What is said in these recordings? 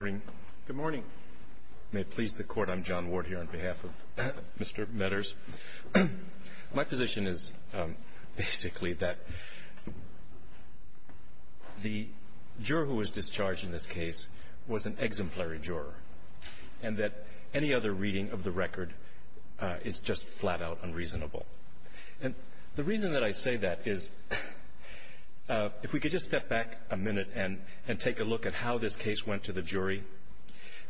Good morning. May it please the Court, I'm John Ward here on behalf of Mr. Metters. My position is basically that the juror who was discharged in this case was an exemplary juror and that any other reading of the record is just flat-out unreasonable. And the reason that I say that is if we could just step back a minute and take a look at how this case went to the jury.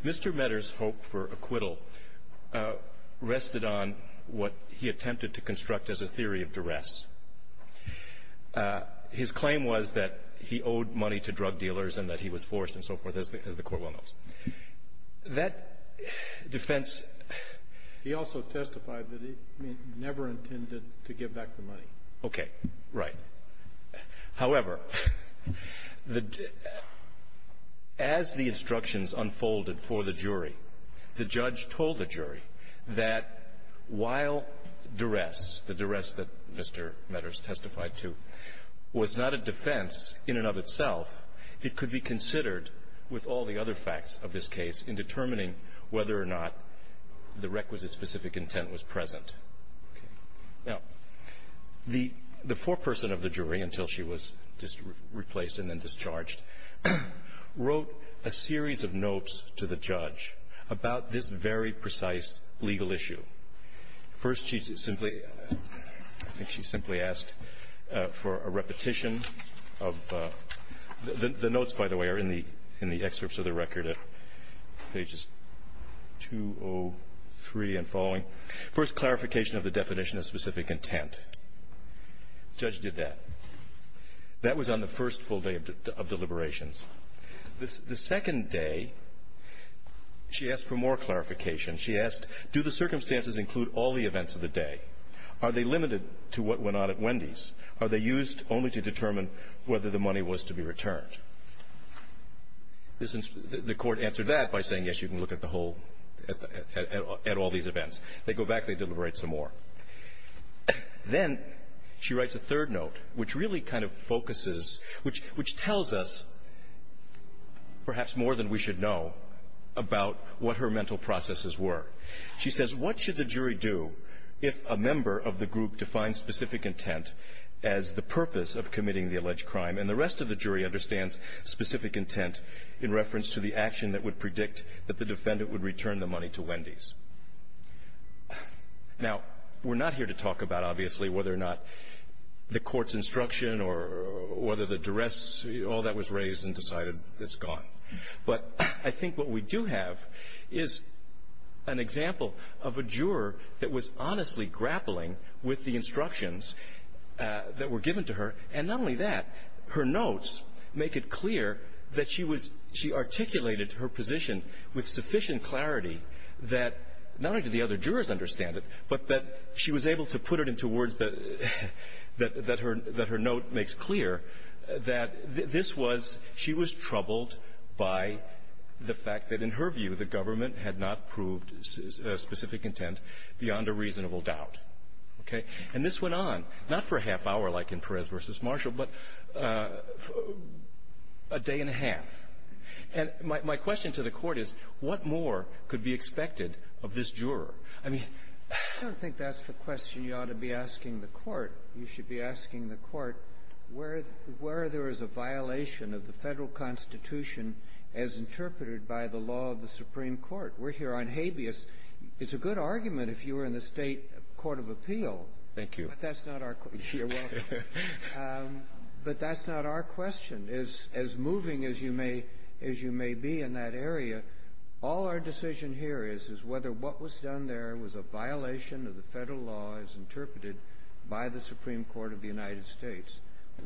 Mr. Metters' hope for acquittal rested on what he attempted to construct as a theory of duress. His claim was that he owed money to drug dealers and that he was forced and so forth, as the Court well knows. That defense — He also testified that he never intended to give back the money. Okay. Right. However, the — as the instructions unfolded for the jury, the judge told the jury that while duress, the duress that Mr. Metters testified to, was not a defense in and of itself, it could be considered with all the other facts of this case in determining whether or not the requisite specific intent was present. Now, the foreperson of the jury, until she was replaced and then discharged, wrote a series of notes to the judge about this very precise legal issue. First, she simply — I think she simply asked for a repetition of — the notes, by the way, are in the excerpts of the record at pages 203 and following. First, clarification of the definition of specific intent. The judge did that. That was on the first full day of deliberations. The second day, she asked for more clarification. She asked, do the circumstances include all the events of the day? Are they limited to what went on at Wendy's? Are they used only to determine whether the money was to be returned? The court answered that by saying, yes, you can look at the whole — at all these events. They go back, they deliberate some more. Then she writes a third note, which really kind of focuses — which tells us perhaps more than we should know about what her mental processes were. She says, what should the jury do if a member of the group defines specific intent as the purpose of committing the alleged crime, and the rest of the jury understands specific intent in reference to the action that would predict that the defendant would return the money to Wendy's? Now, we're not here to talk about, obviously, whether or not the court's instruction or whether the duress, all that was raised and decided it's gone. But I think what we do have is an example of a juror that was honestly grappling with the instructions that were given to her, and not only that, her notes make it clear that she was — she articulated her position with sufficient clarity that not only did the other jurors understand it, but that she was able to put it into words that her note makes clear, that this was — she was troubled by the fact that, in her view, the government had not proved specific intent beyond a reasonable doubt. Okay? And this went on, not for a half-hour like in Perez v. Marshall, but a day and a half. And my question to the Court is, what more could be expected of this juror? I mean, I don't think that's the question you ought to be asking the Court. You should be asking the Court where — where there is a violation of the Federal Constitution as interpreted by the law of the Supreme Court. We're here on habeas. It's a good argument if you were in the State court of appeal. Thank you. But that's not our — you're welcome. But that's not our question. As — as moving as you may — as you may be in that area, all our decision here is, is whether what was done there was a violation of the Federal law as interpreted by the Supreme Court of the United States.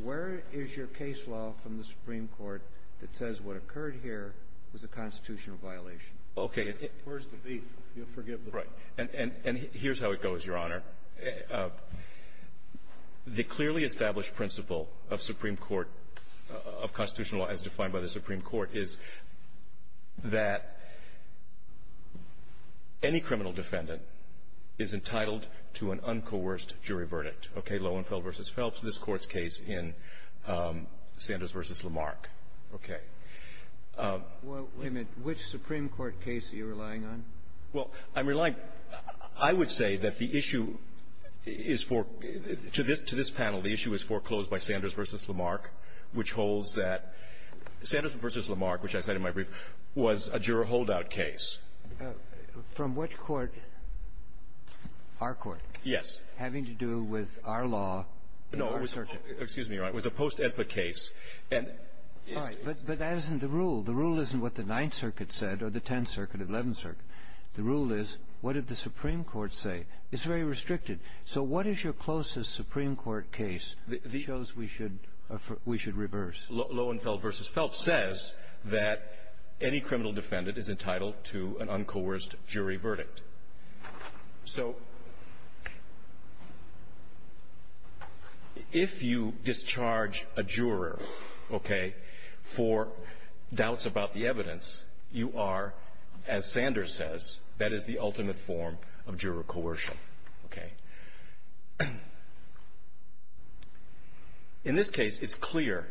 Where is your case law from the Supreme Court that says what occurred here was a constitutional violation? Okay. Where's the beef? You'll forgive the — Right. And — and here's how it goes, Your Honor. The clearly established principle of Supreme Court — of constitutional law as defined by the Supreme Court is that any criminal defendant is entitled to an uncoerced jury verdict. Okay. Lowenfeld v. Phelps, this Court's case in Sanders v. Lamarck. Okay. Well, wait a minute. Which Supreme Court case are you relying on? Well, I'm relying — I would say that the issue is for — to this — to this panel, the issue is foreclosed by Sanders v. Lamarck, which holds that — Sanders v. Lamarck, which I cited in my brief, was a juror holdout case. From which court? Our court. Yes. Having to do with our law in our circuit. No. Excuse me, Your Honor. It was a post-Edpa case. And — All right. But — but that isn't the rule. The rule isn't what the Ninth Circuit said or the Tenth Circuit, Eleventh Circuit. The rule is, what did the Supreme Court say? It's very restricted. So what is your closest Supreme Court case that shows we should — we should reverse? Lohenfeld v. Phelps says that any criminal defendant is entitled to an uncoerced jury verdict. So if you discharge a juror, okay, for doubts about the evidence, you are, as Sanders says, that is the ultimate form of juror coercion. Okay? In this case, it's clear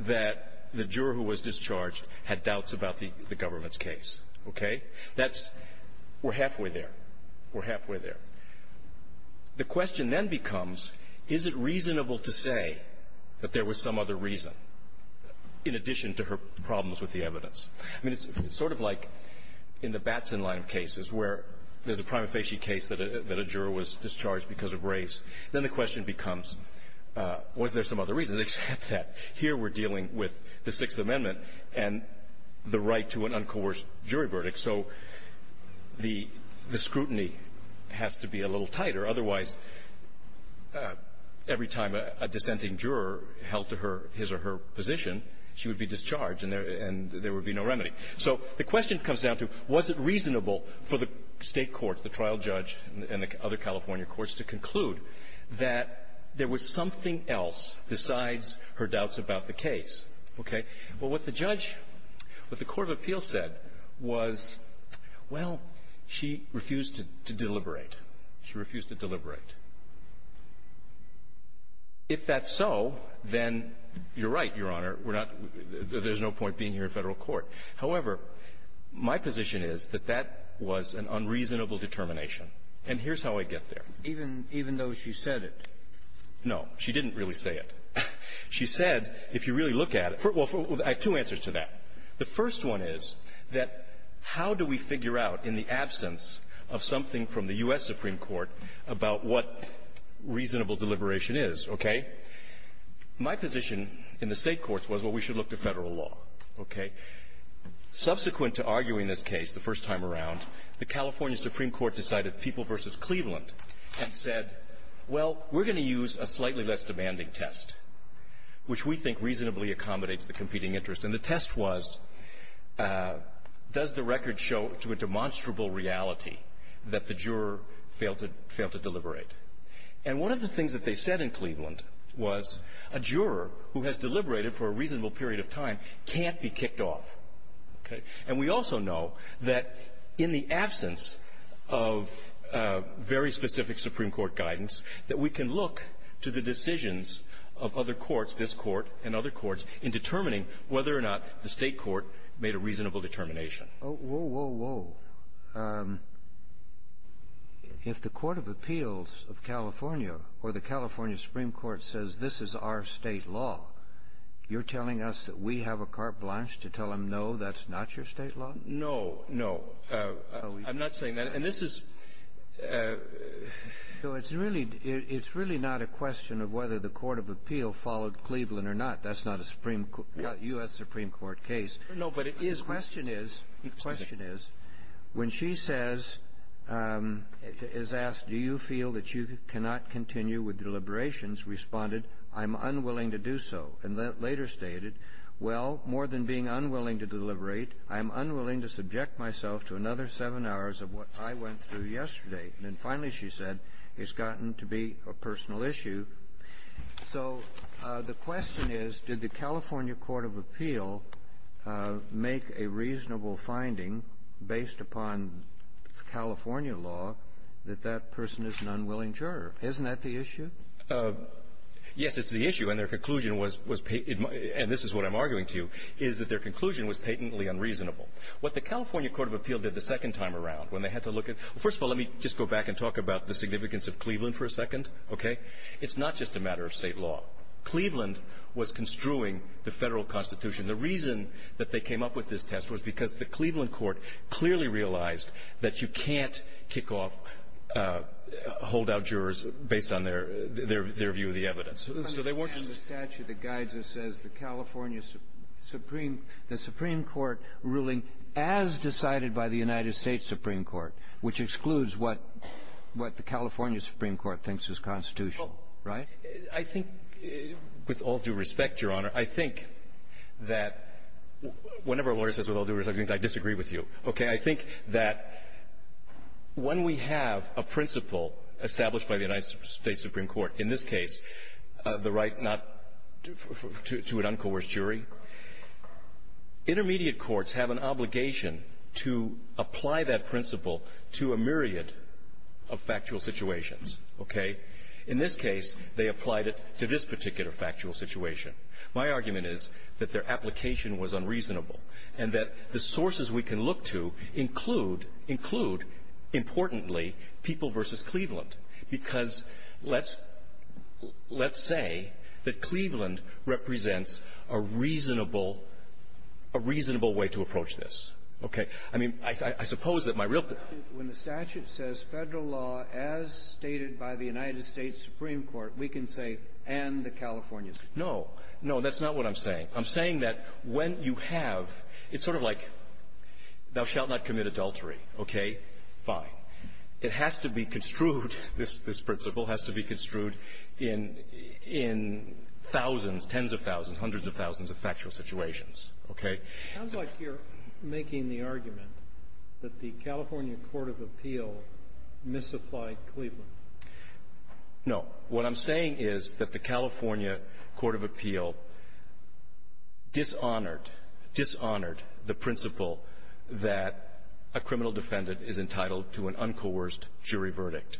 that the juror who was discharged had doubts about the government's case. Okay? That's — we're halfway there. We're halfway there. The question then becomes, is it reasonable to say that there was some other reason, in addition to her problems with the evidence? I mean, it's sort of like in the Batson line of cases where there's a prima facie case that a juror was discharged because of race. Then the question becomes, was there some other reason except that here we're dealing with the Sixth Amendment and the right to an uncoerced jury verdict. So the scrutiny has to be a little tighter. Otherwise, every time a dissenting juror held to her — his or her position, she would be discharged and there would be no remedy. So the question comes down to, was it reasonable for the State courts, the trial judge and the other California courts, to conclude that there was something else besides her doubts about the case? Okay? Well, what the judge, what the court of appeals said was, well, she refused to deliberate. She refused to deliberate. If that's so, then you're right, Your Honor. We're not — there's no point being here in Federal court. However, my position is that that was an unreasonable determination. And here's how I get there. Even — even though she said it? No. She didn't really say it. She said, if you really look at it — well, I have two answers to that. The first one is that how do we figure out in the absence of something from the U.S. Supreme Court about what reasonable deliberation is, okay? My position in the State courts was, well, we should look to Federal law, okay? Subsequent to arguing this case the first time around, the California Supreme Court decided People v. Cleveland and said, well, we're going to use a slightly less demanding test, which we think reasonably accommodates the competing interest. And the test was, does the record show to a demonstrable reality that the juror failed to — failed to deliberate? And one of the things that they said in Cleveland was, a juror who has deliberated for a reasonable period of time can't be kicked off, okay? And we also know that in the absence of very specific Supreme Court guidance, that we can look to the decisions of other courts, this Court and other courts, in determining whether or not the State court made a reasonable determination. Oh, whoa, whoa, whoa. If the Court of Appeals of California or the California Supreme Court says this is our State law, you're telling us that we have a carte blanche to tell them, no, that's not your State law? No, no. I'm not saying that. And this is — So it's really — it's really not a question of whether the Court of Appeals followed Cleveland or not. That's not a Supreme — a U.S. Supreme Court case. No, but it is — The question is — the question is, when she says — is asked, do you feel that you are unwilling to do so, and later stated, well, more than being unwilling to deliberate, I'm unwilling to subject myself to another seven hours of what I went through yesterday, and finally, she said, it's gotten to be a personal issue. So the question is, did the California Court of Appeal make a reasonable finding based upon California law that that person is an unwilling juror? Isn't that the issue? Yes, it's the issue. And their conclusion was — and this is what I'm arguing to you — is that their conclusion was patently unreasonable. What the California Court of Appeal did the second time around, when they had to look at — first of all, let me just go back and talk about the significance of Cleveland for a second, okay? It's not just a matter of State law. Cleveland was construing the federal Constitution. The reason that they came up with this test was because the Cleveland court clearly realized that you can't kick off — hold out jurors based on their view of the evidence. So they weren't just — And the statute that guides us says the California Supreme — the Supreme Court ruling as decided by the United States Supreme Court, which excludes what the California Supreme Court thinks is constitutional, right? I think, with all due respect, Your Honor, I think that — whenever a lawyer says with that when we have a principle established by the United States Supreme Court, in this case, the right not — to an uncoerced jury, intermediate courts have an obligation to apply that principle to a myriad of factual situations, okay? In this case, they applied it to this particular factual situation. My argument is that their application was unreasonable and that the sources we can look to include — include, importantly, people versus Cleveland, because let's — let's say that Cleveland represents a reasonable — a reasonable way to approach this. Okay? I mean, I suppose that my real — When the statute says federal law as stated by the United States Supreme Court, we can say, and the California — No. No, that's not what I'm saying. I'm saying that when you have — it's sort of like, thou shalt not commit adultery. Okay? Fine. It has to be construed — this — this principle has to be construed in — in thousands, tens of thousands, hundreds of thousands of factual situations. Okay? It sounds like you're making the argument that the California court of appeal misapplied Cleveland. No. What I'm saying is that the California court of appeal dishonored — dishonored the principle that a criminal defendant is entitled to an uncoerced jury verdict.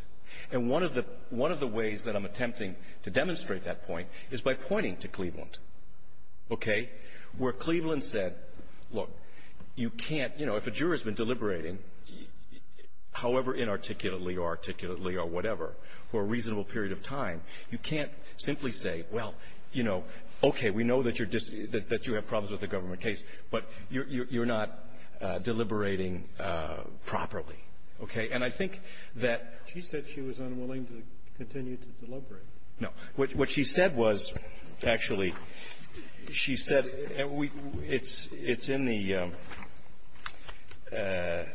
And one of the — one of the ways that I'm attempting to demonstrate that point is by pointing to Cleveland, okay, where Cleveland said, look, you can't — you know, if a juror has been deliberating, however inarticulately or articulately or whatever, for a reasonable period of time, you can't simply say, well, you know, okay, we know that you're — that you have problems with a government case, but you're not deliberating properly. Okay? And I think that — She said she was unwilling to continue to deliberate. No. What she said was, actually, she said — and we — it's — it's in the — it's in the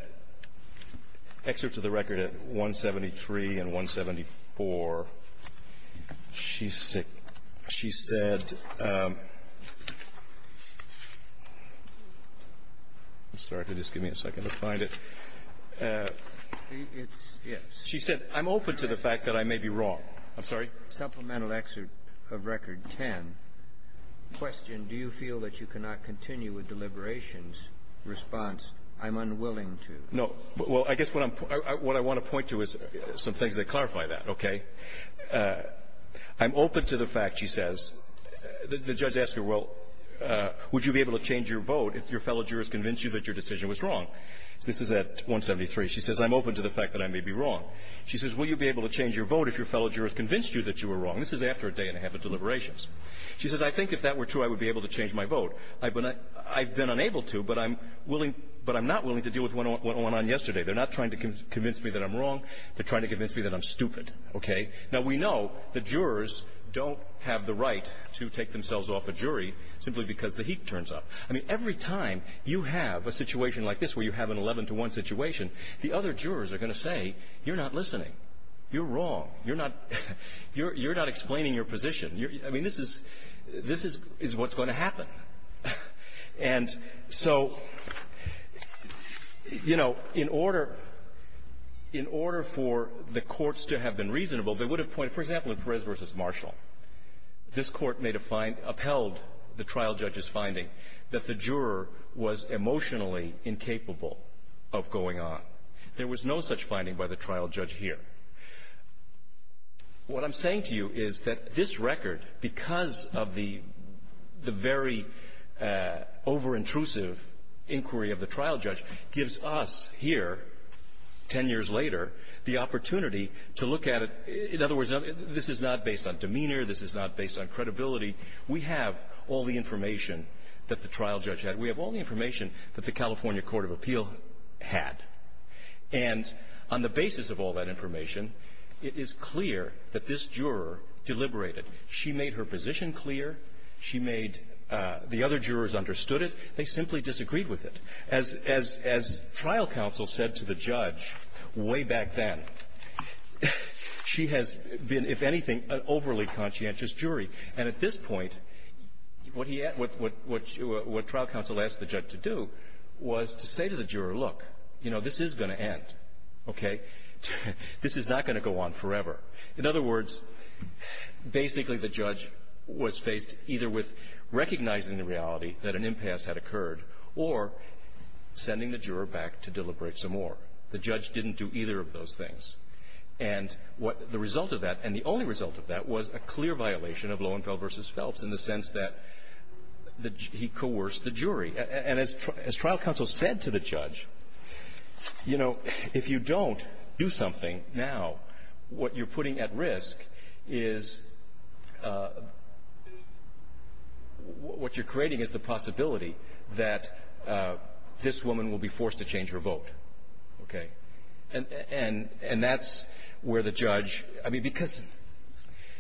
excerpts of the record at 173 and 174. She said — she said — I'm sorry. Could you just give me a second to find it? It's — yes. She said, I'm open to the fact that I may be wrong. I'm sorry? Supplemental excerpt of Record 10, question, do you feel that you cannot continue with deliberations, response, I'm unwilling to? No. Well, I guess what I'm — what I want to point to is some things that clarify that, okay? I'm open to the fact, she says — the judge asked her, well, would you be able to change your vote if your fellow jurors convinced you that your decision was wrong? This is at 173. She says, I'm open to the fact that I may be wrong. She says, will you be able to change your vote if your fellow jurors convinced you that you were wrong? This is after a day and a half of deliberations. She says, I think if that were true, I would be able to change my vote. I've been unable to, but I'm willing — but I'm not willing to deal with what went on yesterday. They're not trying to convince me that I'm wrong. They're trying to convince me that I'm stupid, okay? Now, we know the jurors don't have the right to take themselves off a jury simply because the heat turns up. I mean, every time you have a situation like this, where you have an 11-to-1 situation, the other jurors are going to say, you're not listening. You're wrong. You're not — you're not explaining your position. I mean, this is — this is what's going to happen. And so, you know, in order — in order for the courts to have been reasonable, they would have pointed — for example, in Perez v. Marshall, this Court may have upheld the trial judge's finding that the juror was emotionally incapable of going on. There was no such finding by the trial judge here. What I'm saying to you is that this record, because of the — the very overintrusive inquiry of the trial judge, gives us here, 10 years later, the opportunity to look at it — in other words, this is not based on demeanor. This is not based on credibility. We have all the information that the trial judge had. We have all the information that the California Court of Appeal had. And on the basis of all that information, it is clear that this juror deliberated. She made her position clear. She made — the other jurors understood it. They simply disagreed with it. As — as trial counsel said to the judge way back then, she has been, if anything, an overly conscientious jury. And at this point, what he — what trial counsel asked the judge to do was to say to the juror, look, you know, this is going to end, okay? This is not going to go on forever. In other words, basically, the judge was faced either with recognizing the reality that an impasse had occurred or sending the juror back to deliberate some more. The judge didn't do either of those things. And what — the result of that, and the only result of that, was a clear violation of Loewenfeld v. Phelps in the sense that the — he coerced the jury. And as trial counsel said to the judge, you know, if you don't do something now, what you're putting at risk is — what you're creating is the possibility that this woman will be forced to change her vote, okay? And that's where the judge — I mean, because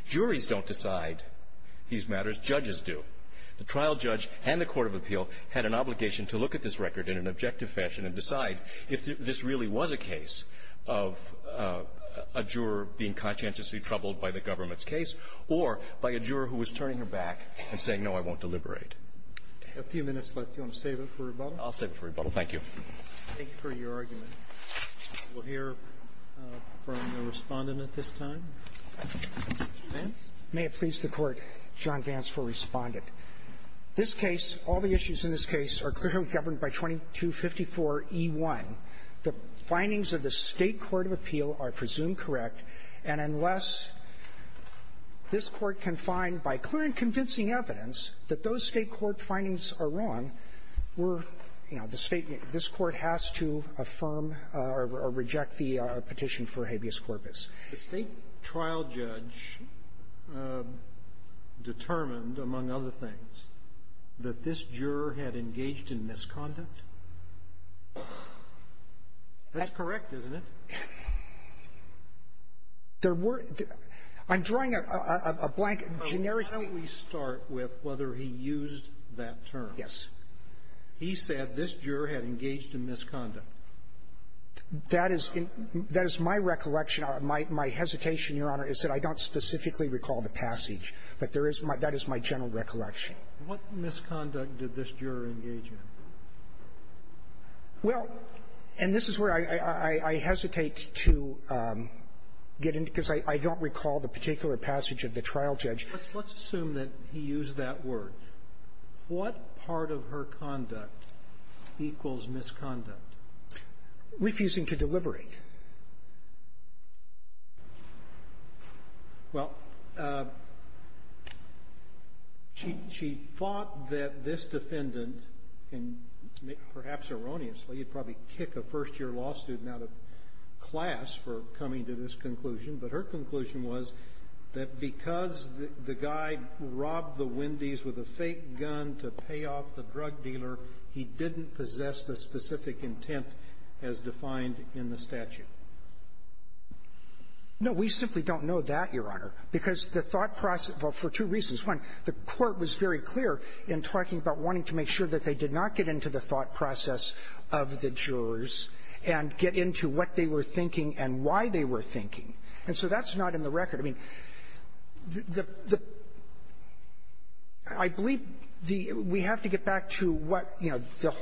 juries don't decide these matters. Judges do. The trial judge and the court of appeal had an obligation to look at this record in an objective fashion and decide if this really was a case of a juror being conscientiously troubled by the government's case or by a juror who was turning her back and saying, no, I won't deliberate. A few minutes left. Do you want to save it for rebuttal? I'll save it for rebuttal. Thank you. Thank you for your argument. We'll hear from the Respondent at this time. Vance? May it please the Court, John Vance for Respondent. This case, all the issues in this case are clearly governed by 2254e1. The findings of the State court of appeal are presumed correct. And unless this Court can find, by clear and convincing evidence, that those State court findings are wrong, we're — you know, the State — this Court has to affirm or reject the petition for habeas corpus. The State trial judge determined, among other things, that this juror had engaged in misconduct? That's correct, isn't it? There were — I'm drawing a blank, generic — But why don't we start with whether he used that term? Yes. He said this juror had engaged in misconduct. That is — that is my recollection. My — my hesitation, Your Honor, is that I don't specifically recall the passage. But there is my — that is my general recollection. What misconduct did this juror engage in? Well — and this is where I hesitate to get into, because I don't recall the particular passage of the trial judge. Let's assume that he used that word. What part of her conduct equals misconduct? Refusing to deliberate. Well, she thought that this defendant — and perhaps erroneously, you'd probably kick a first-year law student out of class for coming to this conclusion. But her conclusion was that because the guy robbed the Wendy's with a fake gun to pay off the drug dealer, he didn't possess the specific intent as defined in the statute. No. We simply don't know that, Your Honor, because the thought process — well, for two reasons. One, the Court was very clear in talking about wanting to make sure that they did not get into the thought process of the jurors and get into what they were thinking. And so that's not in the record. I mean, the — I believe the — we have to get back to what, you know,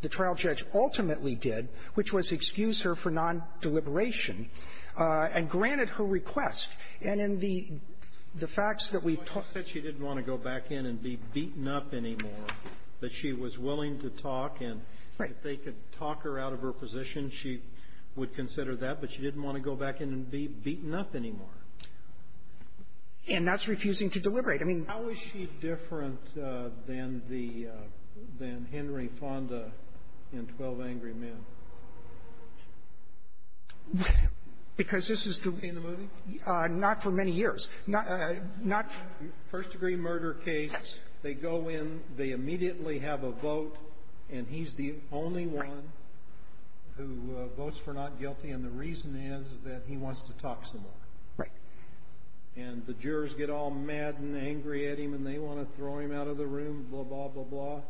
the trial judge ultimately did, which was excuse her for nondeliberation and granted her request. And in the facts that we've talked — But she said she didn't want to go back in and be beaten up anymore, that she was willing to talk and — Right. If they could talk her out of her position, she would consider that. But she didn't want to go back in and be beaten up anymore. And that's refusing to deliberate. I mean — How is she different than the — than Henry Fonda in 12 Angry Men? Because this is the — In the movie? Not for many years. Not — First-degree murder case, they go in, they immediately have a vote, and he's the only one who votes for not guilty. And the reason is that he wants to talk some more. Right. And the jurors get all mad and angry at him, and they want to throw him out of the room, blah, blah, blah, blah.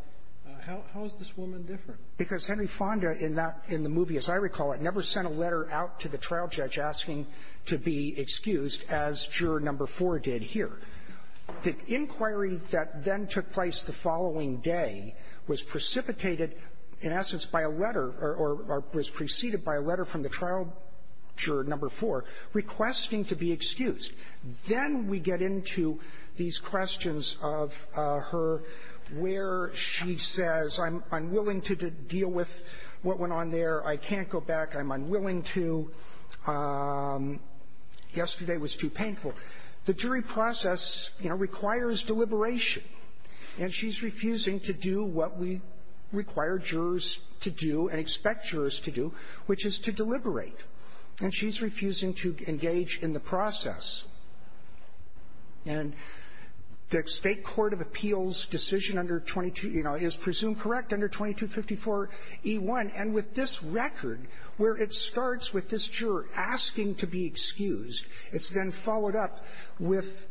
How is this woman different? Because Henry Fonda in that — in the movie, as I recall it, never sent a letter out to the trial judge asking to be excused, as Juror Number 4 did here. The inquiry that then took place the following day was precipitated, in essence, by a letter, or was preceded by a letter from the trial juror, Number 4, requesting to be excused. Then we get into these questions of her where she says, I'm unwilling to deal with what went on there, I can't go back, I'm unwilling to, yesterday was too painful. The jury process, you know, requires deliberation. And she's refusing to do what we require jurors to do and expect jurors to do, which is to deliberate. And she's refusing to engage in the process. And the State Court of Appeals decision under 22 — you know, is presumed correct under 2254e1. And with this record, where it starts with this juror asking to be excused, it's then followed up with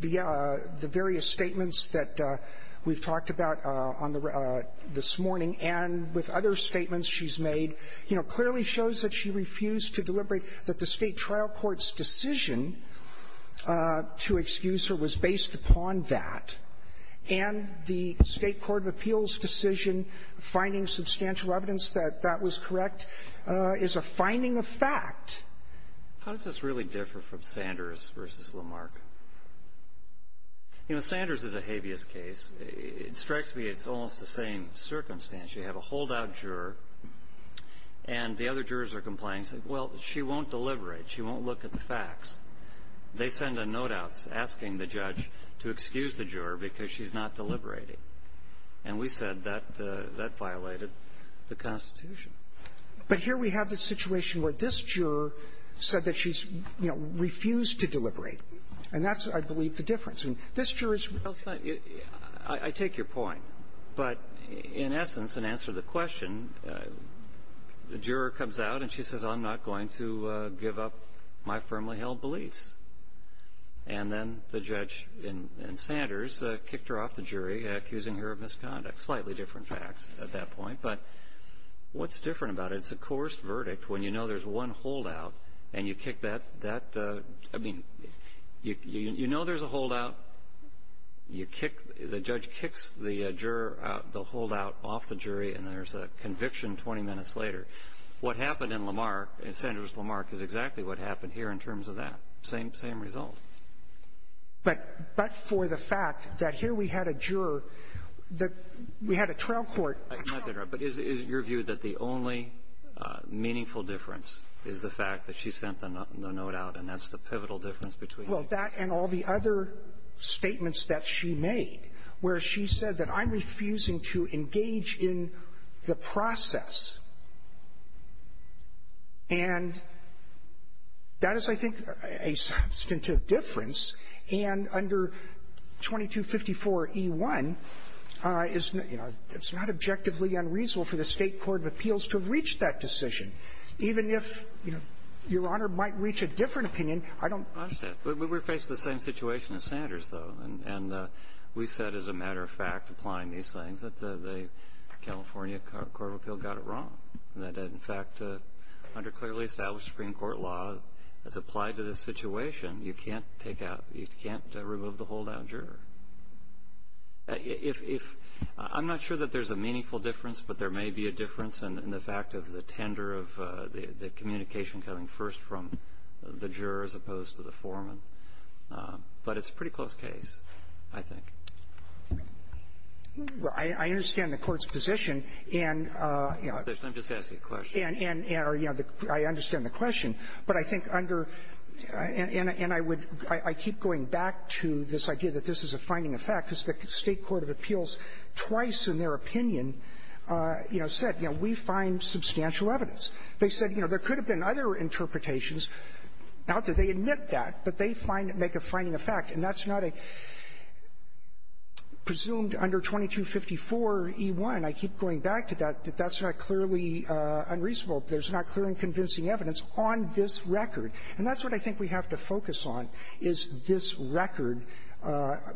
the various statements that we've talked about on the — this morning, and with other statements she's made, you know, clearly shows that she refused to deliberate, that the State trial court's decision to excuse her was based upon that, and the State Court of Appeals decision finding substantial evidence that that was correct is a finding of fact. How does this really differ from Sanders v. Lamarck? You know, Sanders is a habeas case. It strikes me it's almost the same circumstance. You have a holdout juror, and the other jurors are complaining, saying, well, she won't deliberate. She won't look at the facts. They send a note out asking the judge to excuse the juror because she's not deliberating. And we said that that violated the Constitution. But here we have the situation where this juror said that she's, you know, refused to deliberate. And that's, I believe, the difference. And this juror is — Well, it's not — I take your point. But in essence, in answer to the question, the juror comes out and she says, I'm not going to give up my firmly held beliefs. And then the judge in Sanders kicked her off the jury, accusing her of misconduct, slightly different facts at that point. But what's different about it? It's a coerced verdict when you know there's one holdout, and you kick that — that — I mean, you know there's a holdout, you kick — the judge kicks the juror out — the holdout off the jury, and there's a conviction 20 minutes later. What happened in Lamarck, in Sanders-Lamarck, is exactly what happened here in terms of that. Same — same result. But — but for the fact that here we had a juror, the — we had a trial court. Not to interrupt, but is — is it your view that the only meaningful difference is the fact that she sent the note out, and that's the pivotal difference between the two? Well, that and all the other statements that she made, where she said that I'm refusing to engage in the process. And that is, I think, a substantive difference. And under 2254e1, it's not — you know, it's not objectively unreasonable for the State court of appeals to have reached that decision. Even if, you know, Your Honor might reach a different opinion, I don't — We're faced with the same situation as Sanders, though. And — and we said, as a matter of fact, applying these things, that the — the California court of appeal got it wrong. That in fact, under clearly established Supreme Court law, it's applied to this situation. You can't take out — you can't remove the holdout juror. If — if — I'm not sure that there's a meaningful difference, but there may be a difference in the fact of the tender of the — the communication coming first from the juror as opposed to the foreman. But it's a pretty close case, I think. Well, I — I understand the Court's position, and, you know — Let me just ask you a question. And — and — or, you know, I understand the question. But I think under — and — and I would — I keep going back to this idea that this is a finding of fact, because the State court of appeals twice in their opinion, you know, said, you know, we find substantial evidence. They said, you know, there could have been other interpretations, not that they admit that, but they find — make a finding of fact. And that's not a — presumed under 2254e1, I keep going back to that, that that's not clearly unreasonable. There's not clear and convincing evidence on this record. And that's what I think we have to focus on, is this record,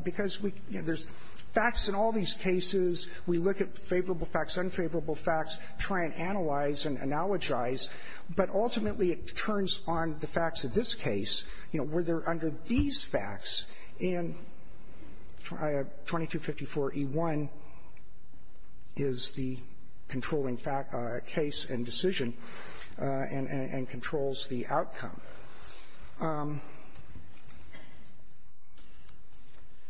because we — you know, there's facts in all these cases. We look at favorable facts, unfavorable facts, try and analyze and analogize. But ultimately, it turns on the facts of this case, you know, where they're under these facts, and 2254e1 is the controlling fact — case and decision, and — and controls the outcome.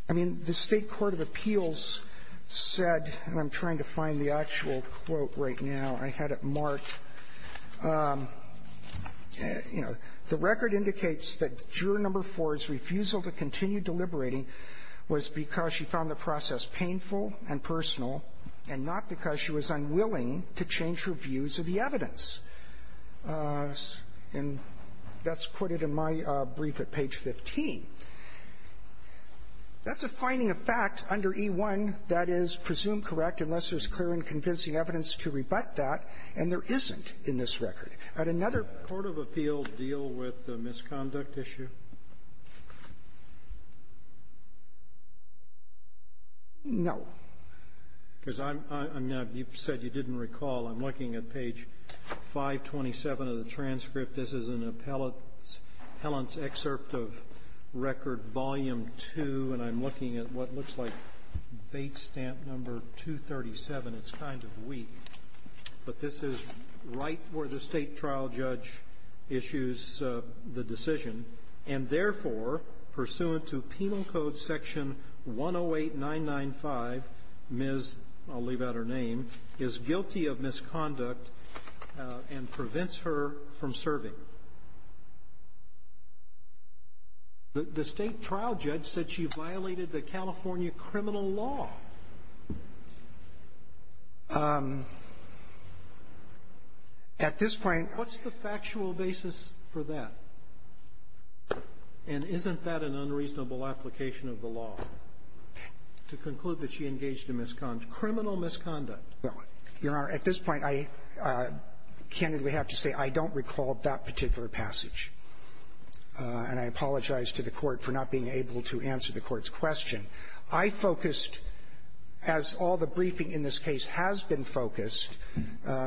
I mean, the State court of appeals said, and I'm trying to find the actual quote right now, I had it marked, you know, the record indicates that juror number four was because she found the process painful and personal, and not because she was unwilling to change her views of the evidence. And that's quoted in my brief at page 15. That's a finding of fact under e1 that is presumed correct unless there's clear and convincing evidence to rebut that, and there isn't in this record. At another — No. Because I'm — I mean, you said you didn't recall. I'm looking at page 527 of the transcript. This is an appellant's excerpt of record volume 2, and I'm looking at what looks like bait stamp number 237. It's kind of weak, but this is right where the State trial judge issues the decision and, therefore, pursuant to Penal Code Section 108995, Ms. — I'll leave out her name — is guilty of misconduct and prevents her from serving. The State trial judge said she violated the California criminal law. At this point — What's the factual basis for that? And isn't that an unreasonable application of the law, to conclude that she engaged in misconduct, criminal misconduct? Your Honor, at this point, I candidly have to say I don't recall that particular passage, and I apologize to the Court for not being able to answer the Court's question. I focused, as all the briefing in this case has been focused,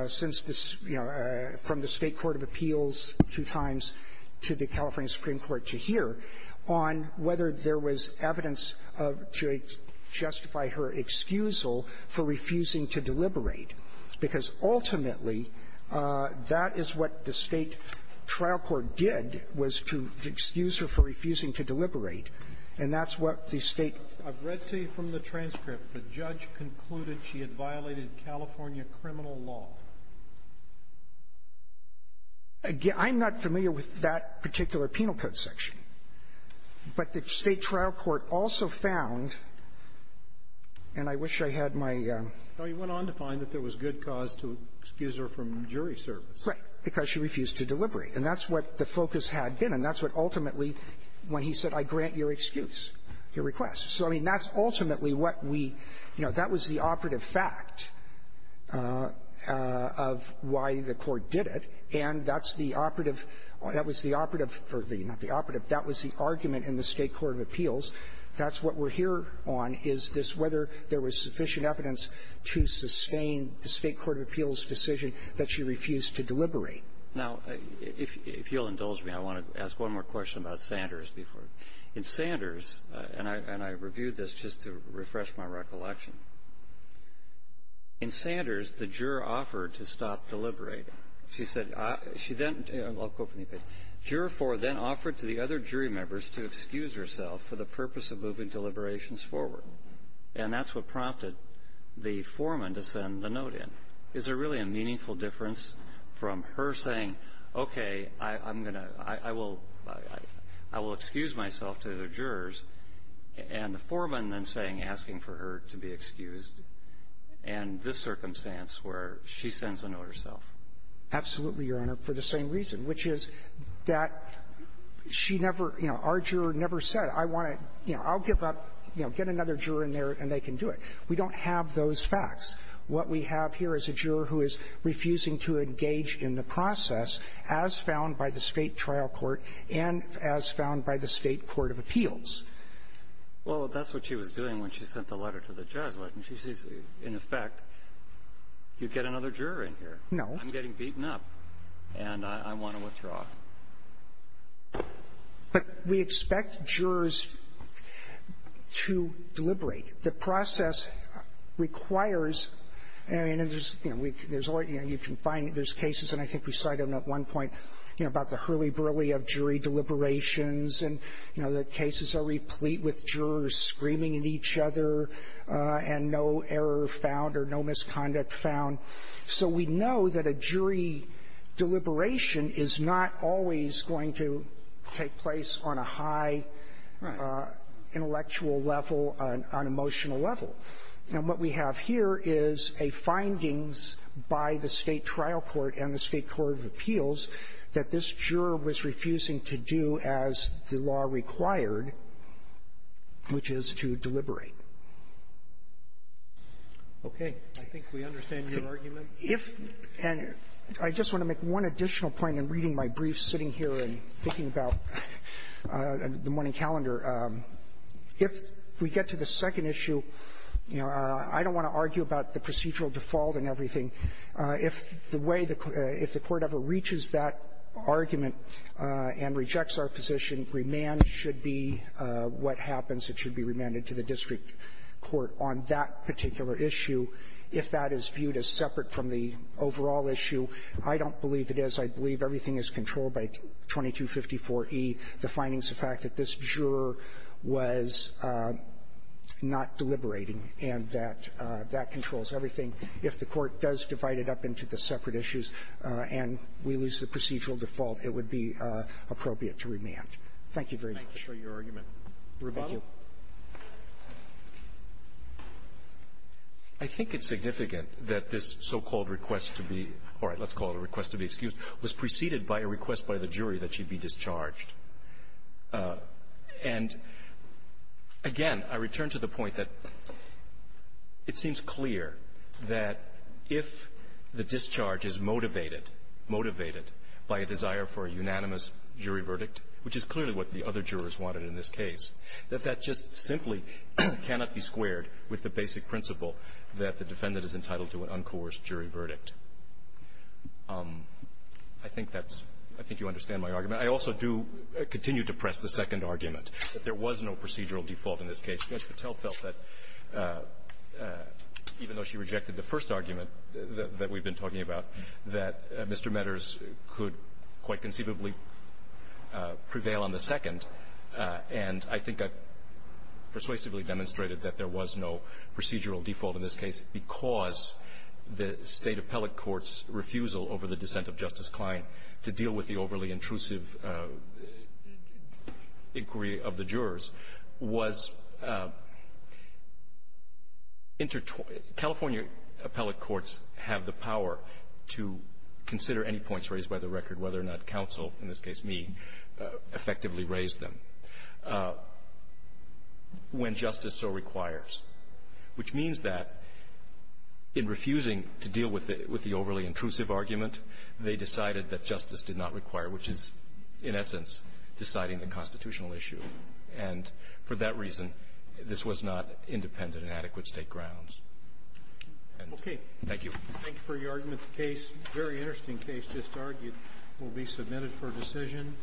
since this, you know, from the State court of appeals two times to the California Supreme Court to here, on whether there was evidence to justify her excusal for refusing to deliberate, because ultimately, that is what the State trial court did, was to excuse her for refusing to deliberate, and that's what the State — I've read to you from the transcript. The judge concluded she had violated California criminal law. Again, I'm not familiar with that particular penal code section. But the State trial court also found, and I wish I had my — Roberts. He went on to find that there was good cause to excuse her from jury service. Right. Because she refused to deliberate. And that's what the focus had been. And that's what ultimately, when he said, I grant your excuse, your request. So, I mean, that's ultimately what we — you know, that was the operative fact of why the Court did it, and that's the operative — that was the operative — not the operative, that was the argument in the State court of appeals. That's what we're here on, is this — whether there was sufficient evidence to sustain the State court of appeals' decision that she refused to deliberate. Now, if you'll indulge me, I want to ask one more question about Sanders before — in Sanders, and I — and I reviewed this just to refresh my recollection. In Sanders, the juror offered to stop deliberating. She said — she then — I'll quote from the op-ed. Juror 4 then offered to the other jury members to excuse herself for the purpose of moving deliberations forward. And that's what prompted the foreman to send the note in. Is there really a meaningful difference from her saying, okay, I'm going to — I will excuse myself to the jurors, and the foreman then saying — asking for her to be excused in this circumstance where she sends the note herself? Absolutely, Your Honor, for the same reason, which is that she never — you know, our juror never said, I want to — you know, I'll give up — you know, get another juror in there and they can do it. We don't have those facts. What we have here is a juror who is refusing to engage in the process as found by the State trial court and as found by the State court of appeals. Well, that's what she was doing when she sent the letter to the judge, wasn't she? She's — in effect, you get another juror in here. No. I'm getting beaten up, and I want to withdraw. But we expect jurors to deliberate. The process requires — I mean, there's — you know, we — there's all — you know, you can find — there's cases, and I think we cited them at one point, you know, about the hurly-burly of jury deliberations. And, you know, the cases are replete with jurors screaming at each other and no error found or no misconduct found. So we know that a jury deliberation is not always going to take place on a high intellectual level, on an emotional level. And what we have here is a findings by the State trial court and the State court of appeals that this juror was refusing to do as the law required, which is to deliberate. Okay. I think we understand your argument. If — and I just want to make one additional point in reading my briefs, sitting here and thinking about the morning calendar. If we get to the second issue, you know, I don't want to argue about the procedural default and everything. If the way the — if the Court ever reaches that argument and rejects our position, remand should be what happens. It should be remanded to the district court on that particular issue. If that is viewed as separate from the overall issue, I don't believe it is. I believe everything is controlled by 2254e, the findings, the fact that this juror was not deliberating and that that controls everything. If the Court does divide it up into the separate issues and we lose the procedural default, it would be appropriate to remand. Thank you very much. Thank you for your argument. Thank you. Thank you. I think it's significant that this so-called request to be — all right, let's call it a request to be excused — was preceded by a request by the jury that she be discharged. And, again, I return to the point that it seems clear that if the discharge is motivated, motivated by a desire for a unanimous jury verdict, which is clearly what the other jurors wanted in this case, that that just simply cannot be squared with the basic principle that the defendant is entitled to an uncoerced jury verdict. I think that's — I think you understand my argument. I also do continue to press the second argument, that there was no procedural default in this case. Judge Patel felt that, even though she rejected the first argument that we've been talking about, that Mr. Meaders could quite conceivably prevail on the second. And I think I've persuasively demonstrated that there was no procedural default in this case because the State appellate court's refusal over the dissent of Justice Sotomayor's inquiry of the jurors was intertwined — California appellate courts have the power to consider any points raised by the record, whether or not counsel, in this case me, effectively raised them, when justice so requires, which means that in refusing to deal with the overly intrusive argument, they decided that justice did not require, which is, in essence, deciding the constitutional issue. And for that reason, this was not independent and adequate State grounds. And thank you. Thank you for your argument. The case, very interesting case, just argued, will be submitted for decision.